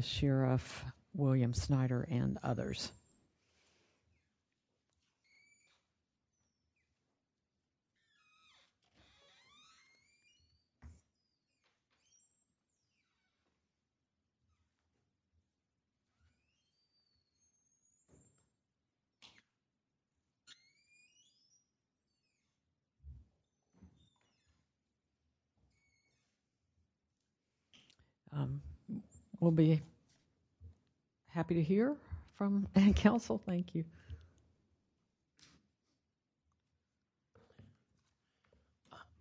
Sheriff, William Snyder, and others. We'll be happy to hear from counsel. Thank you.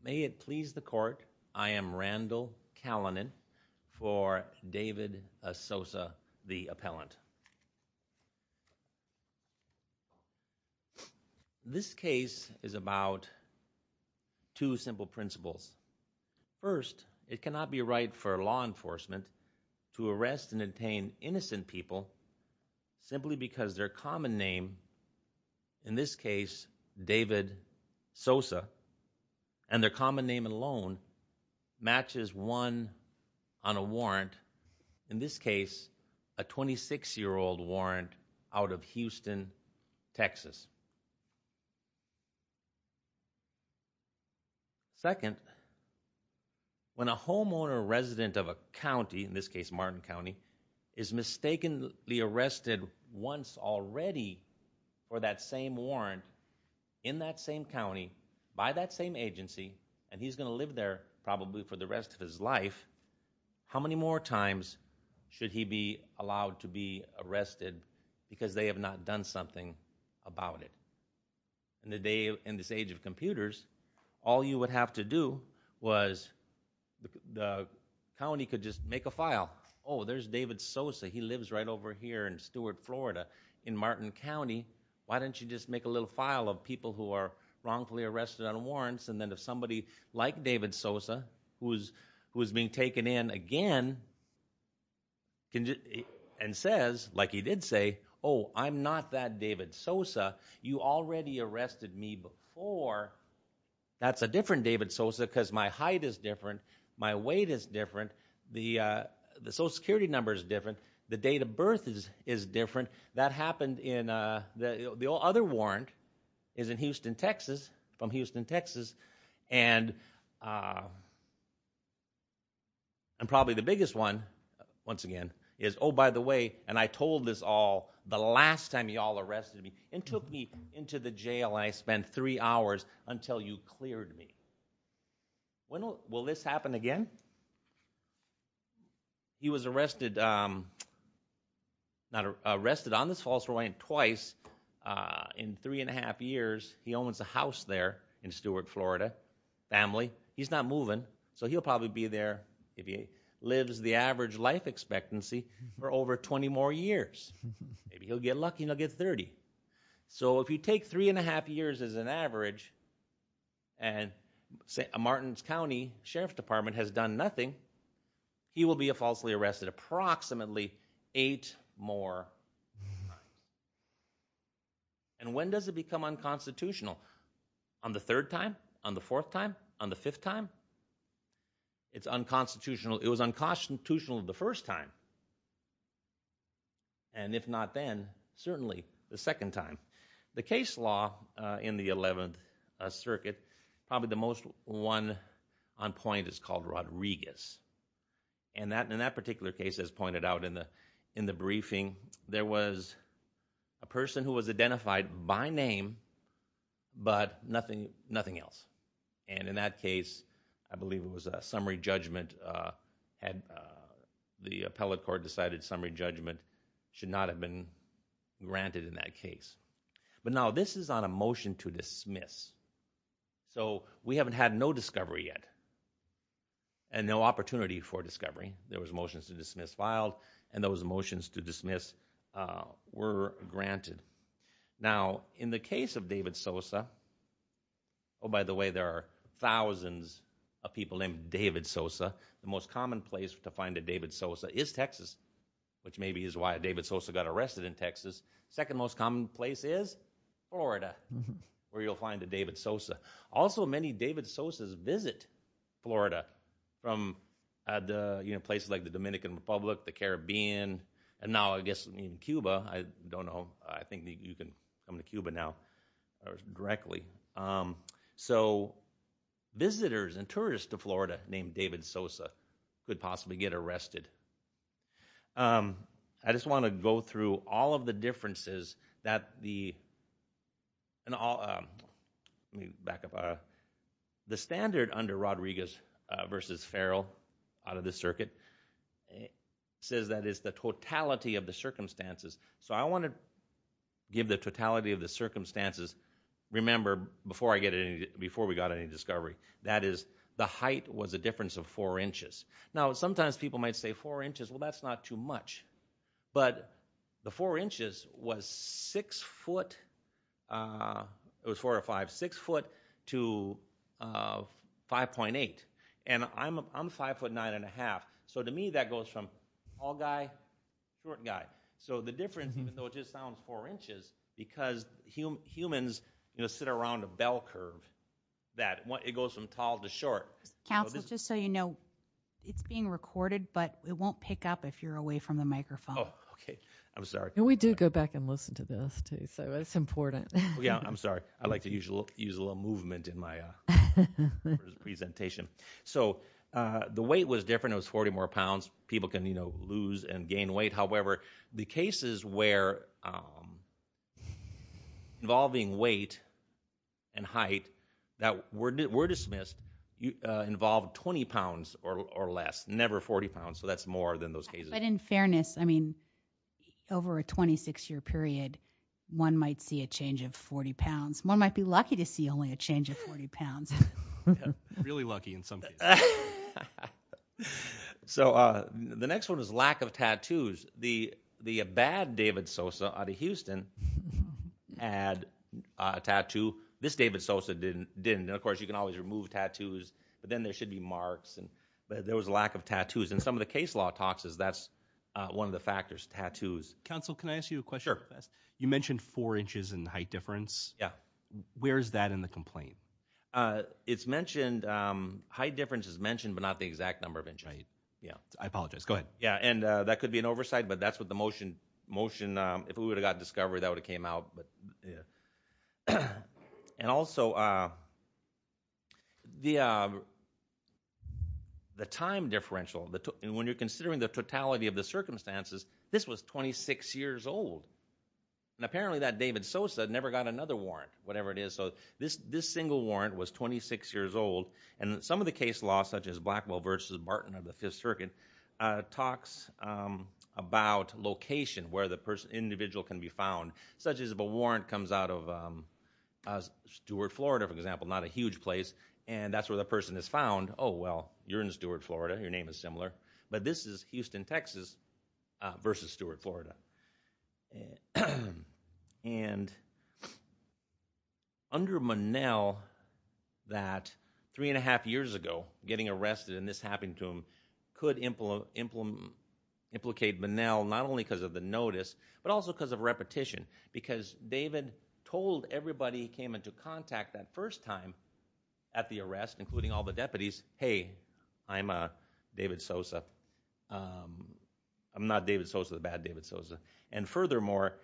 May it please the court, I am Randall Callinan for David Sosa, the appellant. This case is about two simple principles. First, it cannot be right for law enforcement to arrest and detain innocent people simply because their common name, in this case, David Sosa, and their common name alone matches one on a warrant, in this case, a 26-year-old warrant, out of Houston, Texas. Second, when a homeowner resident of a county, in this case, Martin County, is mistakenly arrested once already for that same warrant, in that same county, by that same agency, and he's going to live there probably for the rest of his life, how many more times should he be allowed to be arrested because they have not done something about it? In this age of computers, all you would have to do was, the county could just make a file, oh, there's David Sosa, he lives right over here in Stewart, Florida, in Martin County, why don't you just make a little file of people who are wrongfully arrested on warrants, and then if somebody like David Sosa, who is being taken in again, and says, like he did say, oh, I'm not that David Sosa, you already arrested me before, that's a different David Sosa because my height is different, my weight is different, the Social Security number is different, the date of birth is different, that happened in, the other warrant is in Houston, Texas, from Houston, Texas, and probably the biggest one, once again, is, oh, by the way, and I told this all the last time you all arrested me, and took me into the jail, and I spent three hours until you cleared me. When will this happen again? He was arrested, not arrested, on this false warrant twice, he was arrested in three and a half years, he owns a house there in Stewart, Florida, family, he's not moving, so he'll probably be there, if he lives the average life expectancy, for over twenty more years, maybe he'll get lucky and he'll get thirty, so if you take three and a half years as an average, and Martin's County Sheriff's Department has done nothing, he will be falsely arrested approximately eight more times. And when does it become unconstitutional? On the third time? On the fourth time? On the fifth time? It's unconstitutional, it was unconstitutional the first time, and if not then, certainly the second time. The case law in the Eleventh Circuit, probably the most one on point is called Rodriguez, and in that particular case, as pointed out in the briefing, there was a person who was identified by name, but nothing else, and in that case, I believe it was a summary judgment, the appellate court decided summary judgment should not have been granted in that case. But now this is on a motion to dismiss, so we haven't had no discovery yet, and no opportunity for discovery, there was motions to dismiss filed, and those motions to dismiss were granted. Now, in the case of David Sosa, oh by the way, there are thousands of people named David Sosa, the most common place to find a David Sosa is Texas, which maybe is why David Sosa got arrested in Texas, second most common place is Florida, where you'll find a David Sosa. Also many David Sosa's visit Florida from places like the Dominican Republic, the Caribbean, and now I guess in Cuba, I don't know, I think you can come to Cuba now directly. So, visitors and tourists to Florida named David Sosa could possibly get arrested. I just want to go through all of the differences that the, let me back up, the standard under Rodriguez versus Farrell out of the circuit says that it's the totality of the circumstances, so I want to give the totality of the circumstances, remember before we got any discovery, that is the height was a difference of four inches. Now, sometimes people might say four inches, well that's not too much, but the four inches was six foot, it was four or five, six foot to 5.8, and I'm five foot nine and a half, so to me that goes from tall guy, short guy, so the difference, even though it just sounds four inches, because humans sit around a bell curve, that it goes from tall to short. Council, just so you know, it's being recorded, but it won't pick up if you're away from the microphone. Oh, okay, I'm sorry. We do go back and listen to this, too, so it's important. Yeah, I'm sorry, I like to use a little movement in my presentation. So, the weight was different, it was 40 more pounds, people can, you know, lose and gain weight, however, the cases where involving weight and height that were dismissed involved 20 pounds or less, never 40 pounds, so that's more than those cases. But in fairness, I mean, over a 26 year period, one might see a change of 40 pounds, one might be lucky to see only a change of 40 pounds. Really lucky in some cases. So, the next one is lack of tattoos. The bad David Sosa out of Houston had a tattoo, this David Sosa didn't, and of course, you can always remove tattoos, but then there should be marks, but there was a lack of tattoos, and some of the case law talks is that's one of the factors, tattoos. Council, can I ask you a question? You mentioned four inches in height difference, where is that in the complaint? It's mentioned, height difference is mentioned, but not the exact number of inches. I apologize, go ahead. Yeah, and that could be an oversight, but that's what the motion, if we would have got discovery, that would have came out. And also, the time differential, when you're considering the totality of the circumstances, this was 26 years old, and apparently that David Sosa never got another warrant, whatever it is, so this single warrant was 26 years old, and some of the case law, such as Blackwell versus Martin of the Fifth Circuit, talks about location where the individual can be found, such as if a warrant comes out of Stewart, Florida, for example, not a huge place, and that's where the person is found, oh, well, you're in Stewart, Florida, your name is similar, under Monell, that three and a half years ago, getting arrested, and this happened to him, could implicate Monell, not only because of the notice, but also because of repetition, because David told everybody he came into contact that first time at the arrest, including all the deputies, hey, I'm David Sosa, I'm not David Sosa, the bad David Sosa, and furthermore,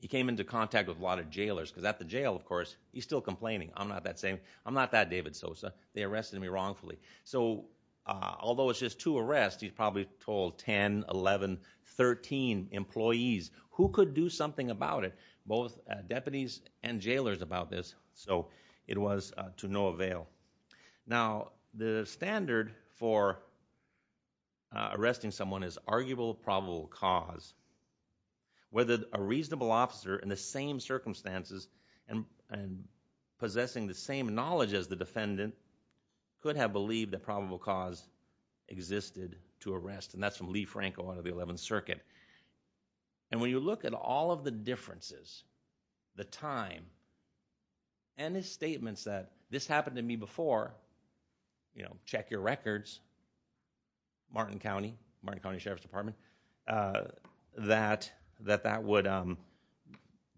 he came into contact with a lot of jailers, because at the jail, of course, he's still complaining, I'm not that same, I'm not that David Sosa, they arrested me wrongfully, so although it's just two arrests, he's probably told 10, 11, 13 employees, who could do something about it, both deputies and jailers about this, so it was to no avail. Now, the standard for arresting someone is arguable, probable cause, whether a reasonable officer in the same circumstances, and possessing the same knowledge as the defendant, could have believed that probable cause existed to arrest, and that's from Lee Franco out of the 11th Circuit, and when you look at all of the differences, the time, and his testimony before, you know, check your records, Martin County, Martin County Sheriff's Department, that that would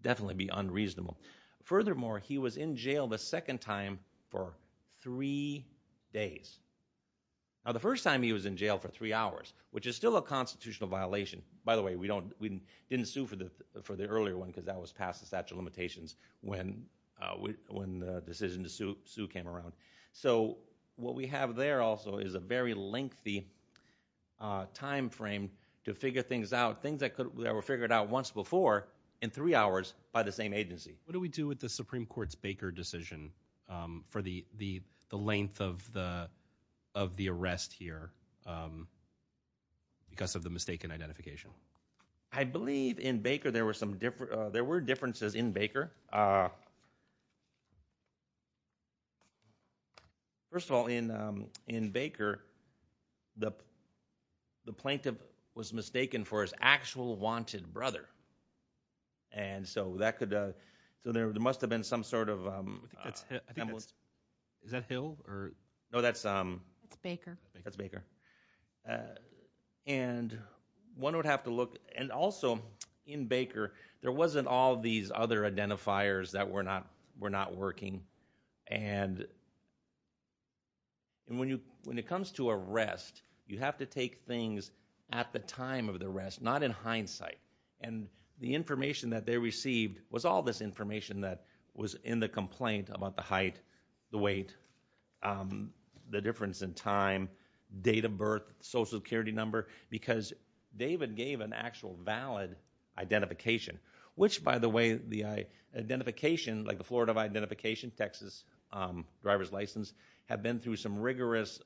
definitely be unreasonable. Furthermore, he was in jail the second time for three days. Now, the first time he was in jail for three hours, which is still a constitutional violation, by the way, we didn't sue for the earlier one, because that was So, what we have there also is a very lengthy time frame to figure things out, things that were figured out once before, in three hours, by the same agency. What do we do with the Supreme Court's Baker decision for the length of the arrest here, because of the mistaken identification? I believe in Baker, there were differences in Baker. First of all, in Baker, the plaintiff was mistaken for his actual wanted brother, and so that could, so there must have been some sort of I think that's, is that Hill, or? No, that's Baker, and one would have to look, and also, in Baker, there wasn't all these other identifiers that were not working, and when it comes to arrest, you have to take things at the time of the arrest, not in hindsight, and the information that they received was all this information that was in the complaint about the height, the weight, the difference in time, date of birth, Social Security number, because David gave an actual valid identification, which by the way, the identification, like the Florida identification, Texas driver's license, have been through some rigorous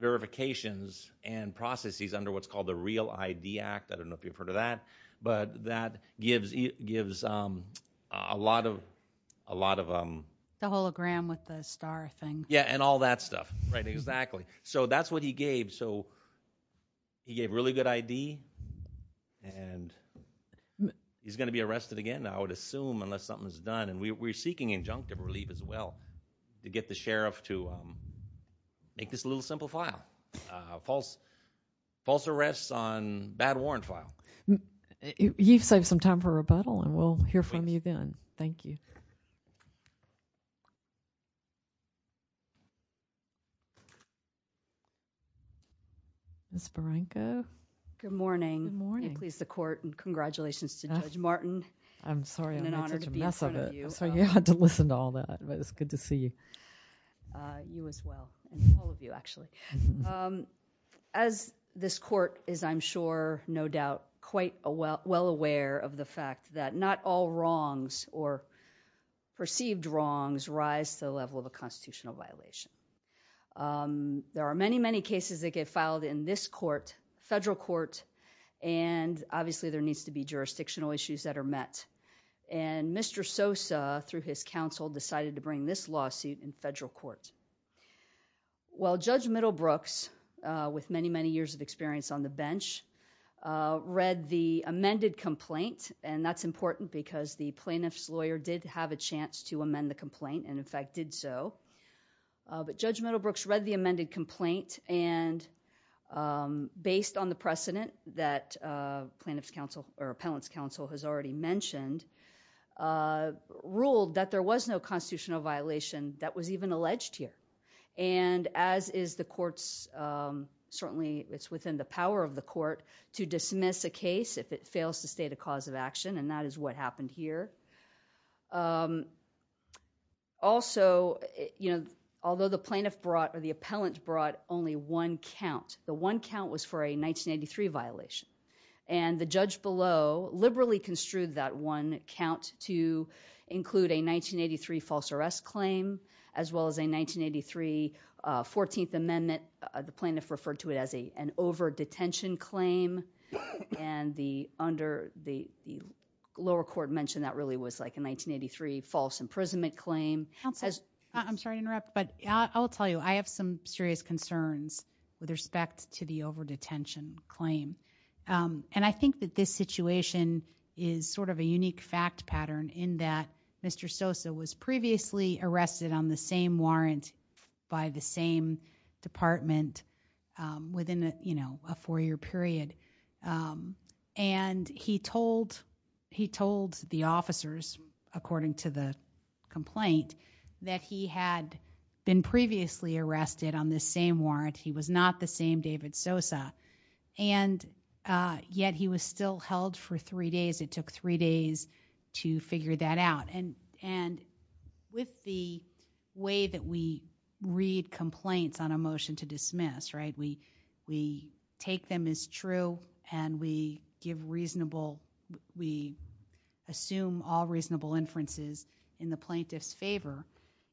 verifications and processes under what's called the Real ID Act, I don't know if you've heard of that, but that gives a lot of The hologram with the star thing. Yeah, and all that stuff, right, exactly. So that's what he gave, so he gave really good ID, and he's going to be arrested again, I would assume, unless something is done, and we're seeking injunctive relief as well, to get the sheriff to make this a little simple file, false arrests on bad warrant file. You've saved some time for rebuttal, and we'll hear from you then, thank you. Ms. Barranco? Good morning, and please, the court, and congratulations to Judge Martin. I'm sorry I made such a mess of it, I'm sorry you had to listen to all that, but it's good to see you. You as well, and all of you actually. As this court is, I'm sure, no doubt, quite well aware of the fact that not all wrongs, or perceived wrongs, rise to the level of a constitutional violation. There are many, many cases that get filed in this court, federal court, and obviously there needs to be jurisdictional issues that are met, and Mr. Sosa, through his counsel, decided to bring this lawsuit in federal court. Well, Judge Middlebrooks, with many, many years of experience on the bench, read the complaint, and that's important because the plaintiff's lawyer did have a chance to amend the complaint, and in fact did so. But Judge Middlebrooks read the amended complaint, and based on the precedent that plaintiff's counsel, or appellant's counsel, has already mentioned, ruled that there was no constitutional violation that was even alleged here. And as is the court's, certainly it's within the power of the court to dismiss a case if it fails to state a cause of action, and that is what happened here. Also, you know, although the plaintiff brought, or the appellant brought only one count, the one count was for a 1983 violation, and the judge below liberally construed that one count to include a 1983 false arrest claim, as well as a 1983 14th Amendment, the plaintiff referred to it as an over-detention claim, and the lower court mentioned that really was like a 1983 false imprisonment claim. Counsel, I'm sorry to interrupt, but I will tell you, I have some serious concerns with respect to the over-detention claim. And I think that this situation is sort of a unique fact pattern in that Mr. Sosa was a four-year period. And he told the officers, according to the complaint, that he had been previously arrested on this same warrant. He was not the same David Sosa. And yet he was still held for three days. It took three days to figure that out. And with the way that we read complaints on a motion to dismiss, right, we take them as true, and we give reasonable, we assume all reasonable inferences in the plaintiff's favor.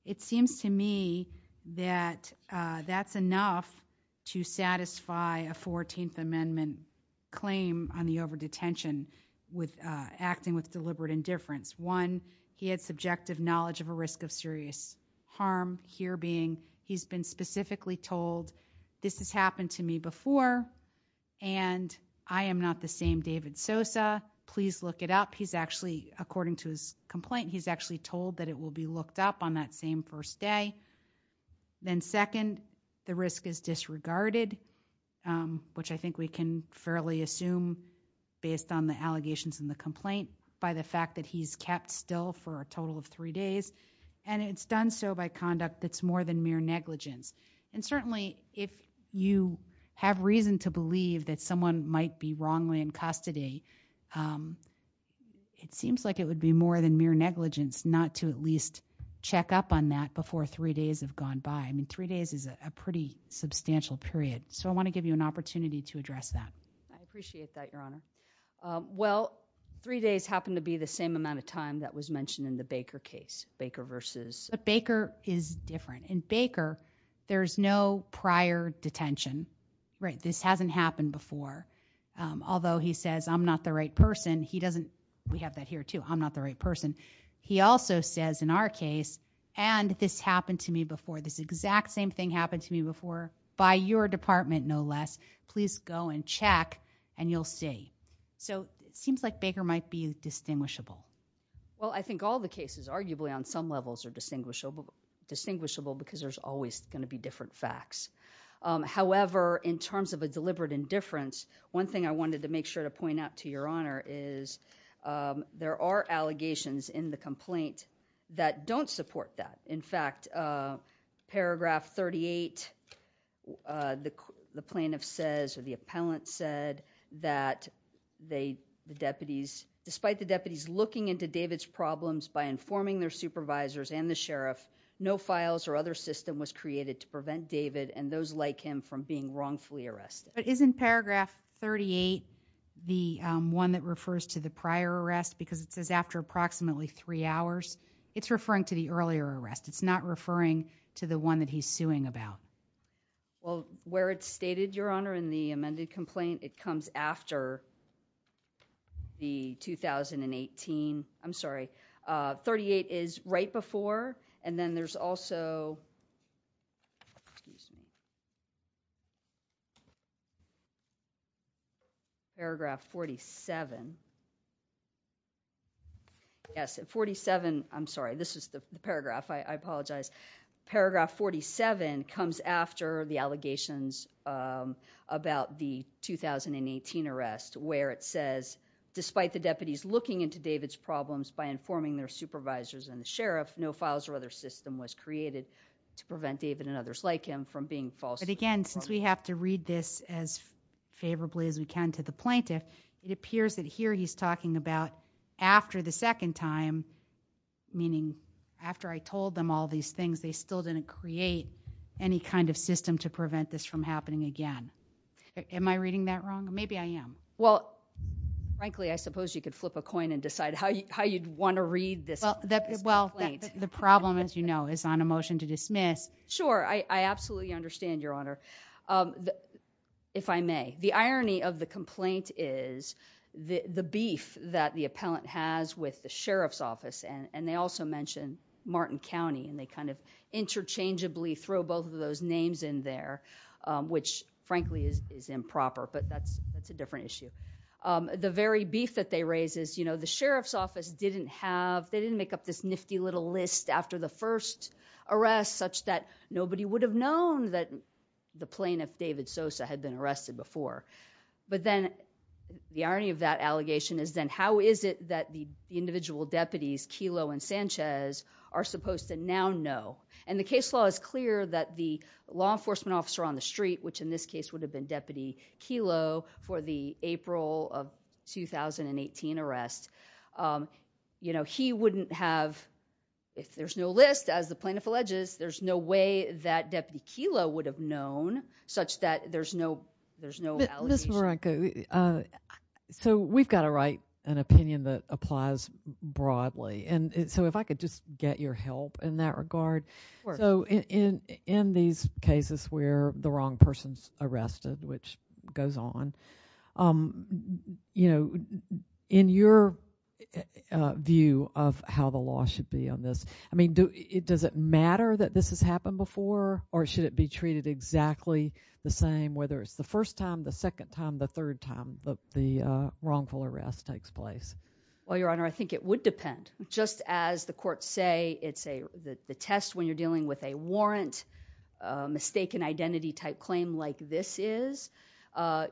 It seems to me that that's enough to satisfy a 14th Amendment claim on the over-detention with acting with deliberate indifference. One, he had subjective knowledge of a risk of serious harm, here being he's been specifically told, this has happened to me before, and I am not the same David Sosa. Please look it up. He's actually, according to his complaint, he's actually told that it will be looked up on that same first day. Then second, the risk is disregarded, which I think we can fairly assume based on the fact that he's kept still for a total of three days, and it's done so by conduct that's more than mere negligence. And certainly if you have reason to believe that someone might be wrongly in custody, it seems like it would be more than mere negligence not to at least check up on that before three days have gone by. I mean, three days is a pretty substantial period. So I want to give you an opportunity to address that. I appreciate that, Your Honor. Well, three days happened to be the same amount of time that was mentioned in the Baker case, Baker versus... But Baker is different. In Baker, there's no prior detention, right? This hasn't happened before. Although he says, I'm not the right person, he doesn't... we have that here, too. I'm not the right person. He also says in our case, and this happened to me before, this exact same thing happened to me before by your department, no less. Please go and check and you'll see. So it seems like Baker might be distinguishable. Well, I think all the cases arguably on some levels are distinguishable because there's always going to be different facts. However, in terms of a deliberate indifference, one thing I wanted to make sure to point out to Your Honor is there are allegations in the complaint that don't support that. In fact, Paragraph 38, the plaintiff says, or the appellant said, that the deputies, despite the deputies looking into David's problems by informing their supervisors and the sheriff, no files or other system was created to prevent David and those like him from being wrongfully arrested. But isn't Paragraph 38 the one that refers to the prior arrest? Because it says after approximately three hours, it's referring to the earlier arrest. It's not referring to the one that he's suing about. Well, where it's stated, Your Honor, in the amended complaint, it comes after the 2018. I'm sorry. Paragraph 47 comes after the allegations about the 2018 arrest where it says, despite the deputies informing their supervisors and the sheriff, no files or other system was created to prevent David and others like him from being falsely arrested. But again, since we have to read this as favorably as we can to the plaintiff, it appears that here he's talking about after the second time, meaning after I told them all these things, they still didn't create any kind of system to prevent this from happening again. Am I reading that wrong? Maybe I am. Well, frankly, I suppose you could flip a coin and decide how you'd want to read this. Well, the problem, as you know, is on a motion to dismiss. Sure. I absolutely understand, Your Honor, if I may. The irony of the complaint is the beef that the appellant has with the sheriff's office. And they also mention Martin County. And they kind of interchangeably throw both of those names in there, which, frankly, is improper. But that's a different issue. The very beef that they raise is, you know, the sheriff's office didn't have, they didn't make up this nifty little list after the first arrest such that nobody would have known that the plaintiff, David Sosa, had been arrested before. But then the irony of that allegation is then how is it that the individual deputies, Kelo and Sanchez, are supposed to now know? And the case law is clear that the law enforcement officer on the street, which in this case would have been Deputy Kelo, for the April of 2018 arrest, you know, he wouldn't have, if there's no list, as the plaintiff alleges, there's no way that Deputy Kelo would have known such that there's no allegation. Ms. Marenko, so we've got to write an opinion that applies broadly. And so if I could just get your help in that regard. Of course. So in these cases where the wrong person's arrested, which goes on, you know, in your view of how the law should be on this, I mean, does it matter that this has happened before? Or should it be treated exactly the same, whether it's the first time, the second time, the third time the wrongful arrest takes place? Well, Your Honor, I think it would depend. Just as the courts say, it's a, the test when you're dealing with a warrant, mistaken identity type claim like this is,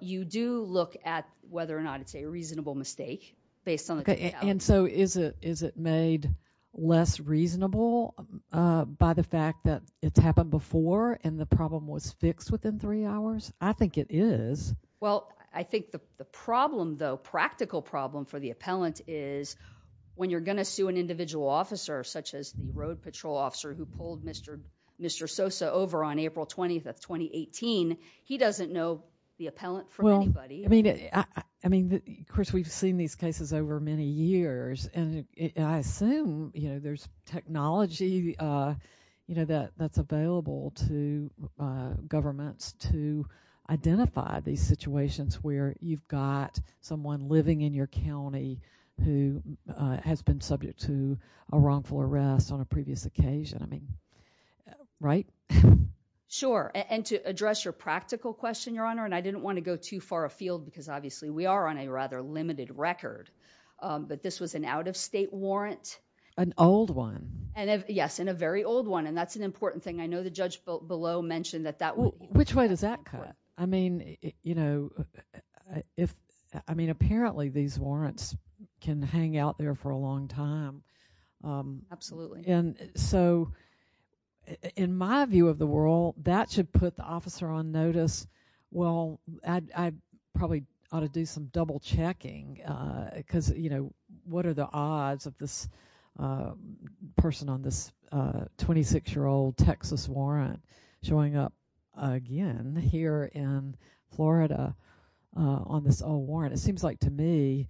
you do look at whether or not it's a reasonable mistake based on the details. And so is it made less reasonable by the fact that it's happened before and the problem was fixed within three hours? I think it is. Well, I think the problem, though, practical problem for the appellant is when you're going to sue an individual officer such as the road patrol officer who pulled Mr. Sosa over on April 20th of 2018, he doesn't know the appellant from anybody. Well, I mean, Chris, we've seen these cases over many years. And I assume, you know, there's technology, you know, that's available to governments to identify these situations where you've got someone living in your county who has been subject to a wrongful arrest on a previous occasion. I mean, right? Sure. And to address your practical question, Your Honor, and I didn't want to go too far afield because obviously we are on a rather limited record, but this was an out-of-state warrant. An old one. Yes, and a very old one. And that's an important thing. I know the judge below mentioned that that would be. Which way does that cut? I mean, you know, apparently these warrants can hang out there for a long time. Absolutely. And so in my view of the world, that should put the officer on notice. Well, I probably ought to do some double checking because, you know, what are the odds of this person on this 26-year-old Texas warrant showing up again here in Florida on this old warrant? It seems like to me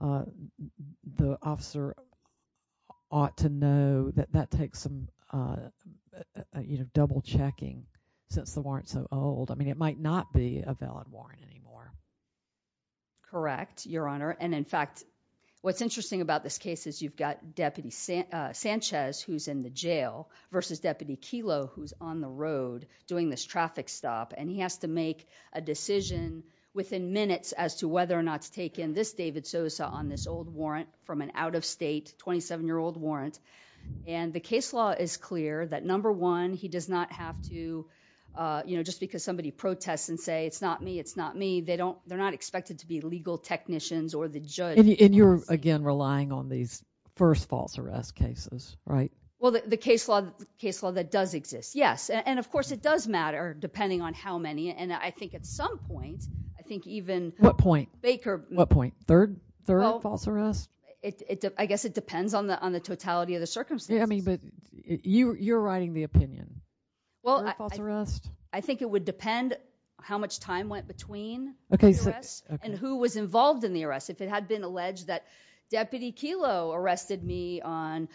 the officer ought to know that that takes some, you know, double checking since the warrant's so old. I mean, it might not be a valid warrant anymore. Correct, Your Honor. And in fact, what's interesting about this case is you've got Deputy Sanchez, who's in the jail, versus Deputy Kelo, who's on the road doing this traffic stop. And he has to make a decision within minutes as to whether or not to take in this David Sosa on this old warrant from an out-of-state 27-year-old warrant. And the case law is clear that, number one, he does not have to, you know, just because somebody protests and say, it's not me, it's not me, they're not expected to be legal technicians or the judge. And you're, again, relying on these first false arrest cases, right? Well, the case law that does exist, yes. And, of course, it does matter depending on how many. And I think at some point, I think even… What point? Baker… What point? Third false arrest? I guess it depends on the totality of the circumstances. Well, I… Third false arrest? It would depend how much time went between the arrest and who was involved in the arrest. If it had been alleged that Deputy Kelo arrested me on,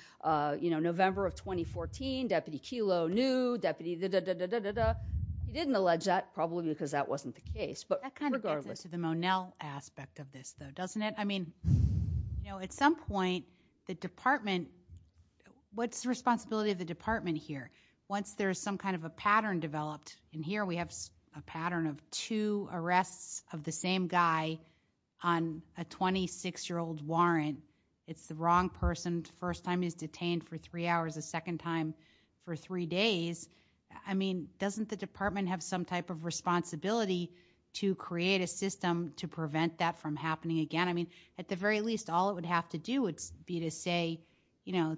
you know, November of 2014, Deputy Kelo knew, Deputy da-da-da-da-da-da-da. He didn't allege that, probably because that wasn't the case. That kind of gets into the Monell aspect of this, though, doesn't it? I mean, you know, at some point, the department… What's the responsibility of the department here? Once there's some kind of a pattern developed, and here we have a pattern of two arrests of the same guy on a 26-year-old warrant, it's the wrong person, first time he's detained for three hours, the second time for three days. I mean, doesn't the department have some type of responsibility to create a system to prevent that from happening again? I mean, at the very least, all it would have to do would be to say, you know,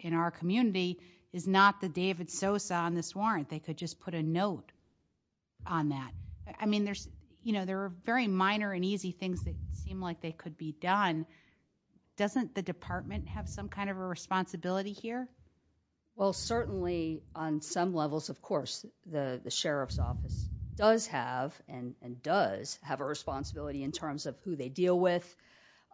in our community is not the David Sosa on this warrant. They could just put a note on that. I mean, there's, you know, there are very minor and easy things that seem like they could be done. Doesn't the department have some kind of a responsibility here? Well, certainly, on some levels, of course, the sheriff's office does have and does have a responsibility in terms of who they deal with.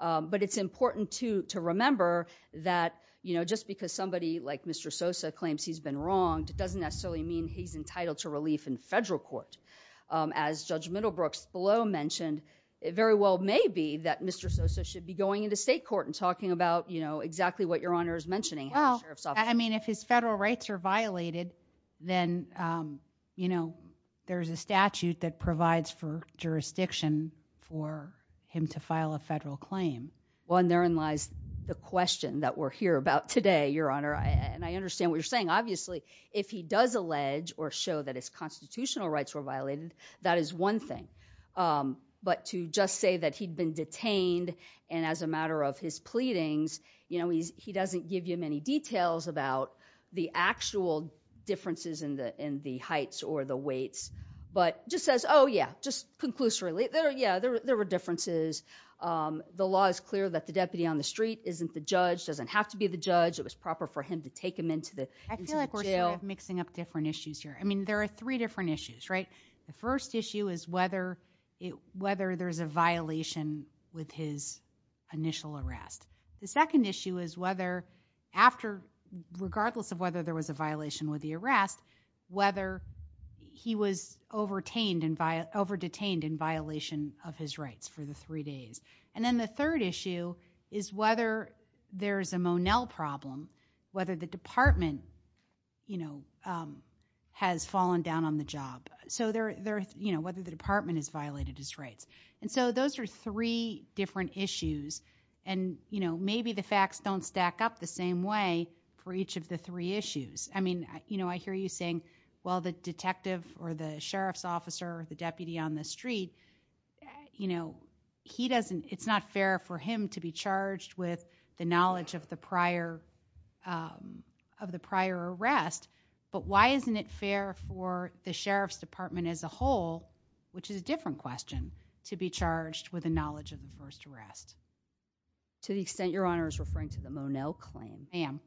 But it's important to remember that, you know, just because somebody like Mr. Sosa claims he's been wronged doesn't necessarily mean he's entitled to relief in federal court. As Judge Middlebrooks below mentioned, it very well may be that Mr. Sosa should be going into state court and talking about, you know, exactly what Your Honor is mentioning. Well, I mean, if his federal rights are violated, then, you know, there's a statute that provides for jurisdiction for him to file a federal claim. Well, and therein lies the question that we're here about today, Your Honor. And I understand what you're saying. Obviously, if he does allege or show that his constitutional rights were violated, that is one thing. But to just say that he'd been detained and as a matter of his pleadings, you know, he doesn't give you many details about the actual differences in the heights or the weights, but just says, oh, yeah, just conclusively, yeah, there were differences. The law is clear that the deputy on the street isn't the judge, doesn't have to be the judge. It was proper for him to take him into the jail. I feel like we're sort of mixing up different issues here. I mean, there are three different issues, right? The first issue is whether there's a violation with his initial arrest. The second issue is whether after, regardless of whether there was a violation with the arrest, whether he was overtained and over-detained in violation of his rights for the three days. And then the third issue is whether there's a Monell problem, whether the department, you know, has fallen down on the job. So, you know, whether the department has violated his rights. And so those are three different issues, and, you know, maybe the facts don't stack up the same way for each of the three issues. I mean, you know, I hear you saying, well, the detective or the sheriff's officer or the deputy on the street, you know, he doesn't, it's not fair for him to be charged with the knowledge of the prior arrest. But why isn't it fair for the sheriff's department as a whole, which is a different question, to be charged with the knowledge of the first arrest? To the extent Your Honor is referring to the Monell claim, ma'am,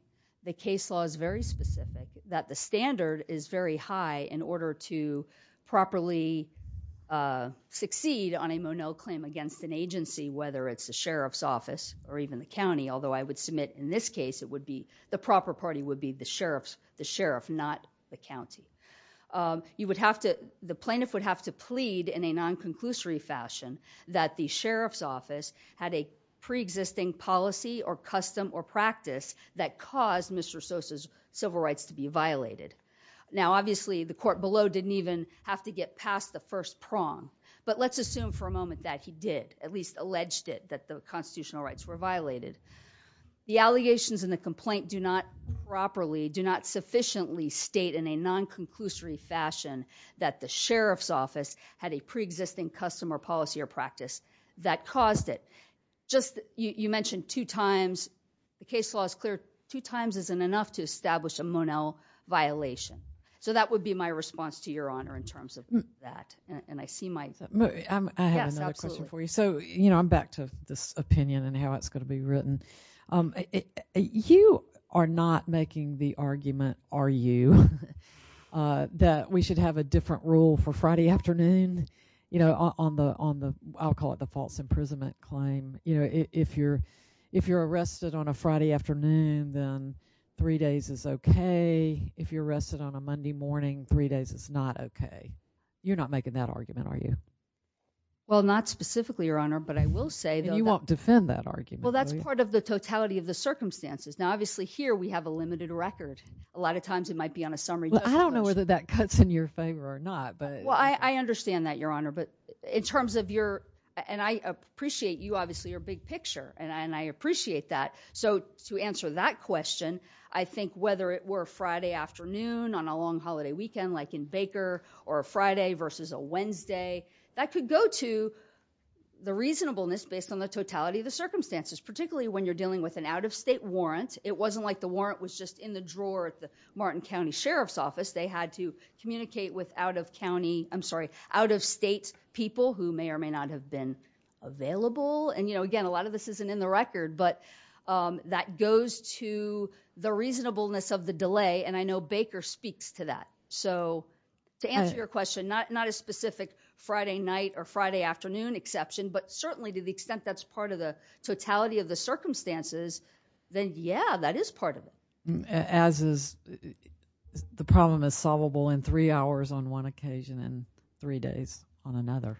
the case law is very specific, that the standard is very high in order to properly succeed on a Monell claim against an agency, whether it's the sheriff's office or even the county, although I would submit in this case it would be, the proper party would be the sheriff, not the county. You would have to, the plaintiff would have to plead in a non-conclusory fashion that the sheriff's office had a pre-existing policy or custom or practice that caused Mr. Sosa's civil rights to be violated. Now, obviously, the court below didn't even have to get past the first prong, but let's assume for a moment that he did, at least alleged it, that the constitutional rights were violated. The allegations in the complaint do not properly, do not sufficiently state in a non-conclusory fashion that the sheriff's office had a pre-existing custom or policy or practice that caused it. Just, you mentioned two times, the case law is clear, two times isn't enough to establish a Monell violation. So that would be my response to your honor in terms of that. And I see my... I have another question for you. So, you know, I'm back to this opinion and how it's going to be written. You are not making the argument, are you, that we should have a different rule for Friday afternoon, you know, on the, I'll call it the false imprisonment claim. You know, if you're arrested on a Friday afternoon, then three days is okay. If you're arrested on a Monday morning, three days is not okay. You're not making that argument, are you? Well, not specifically, your honor, but I will say that... And you won't defend that argument, will you? Well, that's part of the totality of the circumstances. Now, obviously, here we have a limited record. A lot of times it might be on a summary... Well, I don't know whether that cuts in your favor or not, but... Well, I understand that, your honor, but in terms of your... And I appreciate you, obviously, are big picture, and I appreciate that. So, to answer that question, I think whether it were Friday afternoon on a long holiday weekend, like in Baker, or a Friday versus a Wednesday, that could go to the reasonableness based on the totality of the circumstances, particularly when you're dealing with an out-of-state warrant. It wasn't like the warrant was just in the drawer at the Martin County Sheriff's Office. They had to communicate with out-of-state people who may or may not have been available. And, again, a lot of this isn't in the record, but that goes to the reasonableness of the delay, and I know Baker speaks to that. So, to answer your question, not a specific Friday night or Friday afternoon exception, but certainly to the extent that's part of the totality of the circumstances, then, yeah, that is part of it. As is... The problem is solvable in three hours on one occasion and three days on another,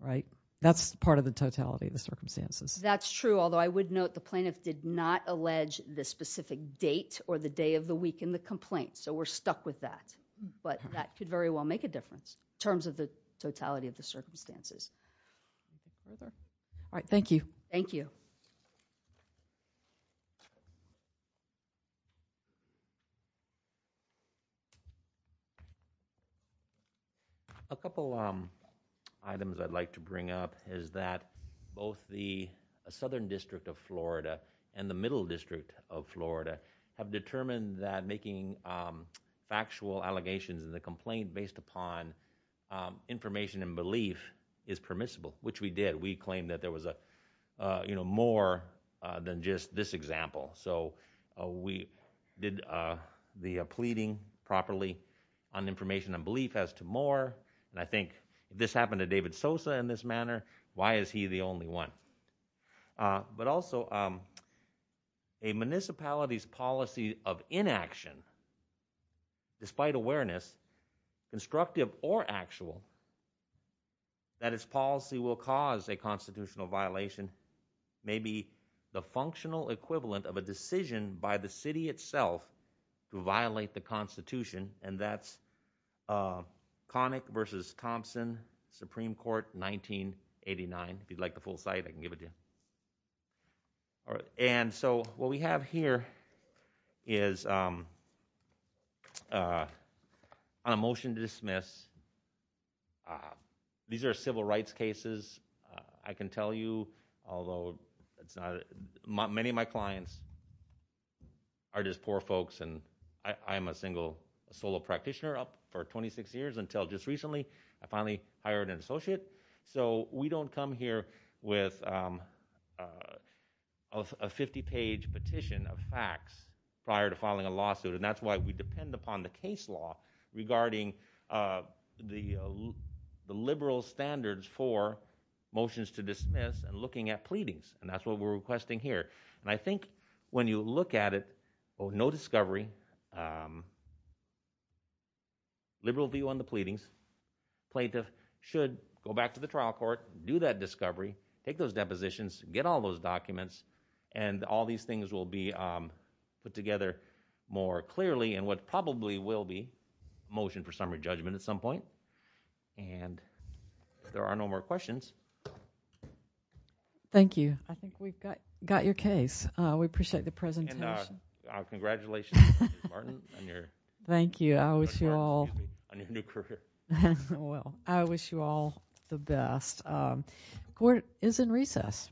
right? That's part of the totality of the circumstances. That's true, although I would note the plaintiff did not allege the specific date or the day of the week in the complaint, so we're stuck with that. But that could very well make a difference in terms of the totality of the circumstances. All right, thank you. Thank you. Thank you. A couple items I'd like to bring up is that both the Southern District of Florida and the Middle District of Florida have determined that making factual allegations in the complaint based upon information and belief is permissible, which we did. We claimed that there was more than just this example. So we did the pleading properly on information and belief as to more, and I think if this happened to David Sosa in this manner, why is he the only one? But also, a municipality's policy of inaction, despite awareness, constructive or actual, that its policy will cause a constitutional violation may be the functional equivalent of a decision by the city itself to violate the Constitution, and that's Connick v. Thompson, Supreme Court, 1989. If you'd like the full site, I can give it to you. All right, and so what we have here is a motion to dismiss. These are civil rights cases. I can tell you, although many of my clients are just poor folks, and I am a single solo practitioner up for 26 years until just recently I finally hired an associate, so we don't come here with a 50-page petition of facts prior to filing a lawsuit, and that's why we depend upon the case law regarding the liberal standards for motions to dismiss and looking at pleadings, and that's what we're requesting here. And I think when you look at it, oh, no discovery, liberal view on the pleadings, plaintiff should go back to the trial court, do that discovery, take those depositions, get all those documents, and all these things will be put together more clearly, and what probably will be motion for summary judgment at some point. And if there are no more questions. Thank you. I think we've got your case. We appreciate the presentation. Congratulations, Mr. Martin, on your new career. I wish you all the best. Court is in recess.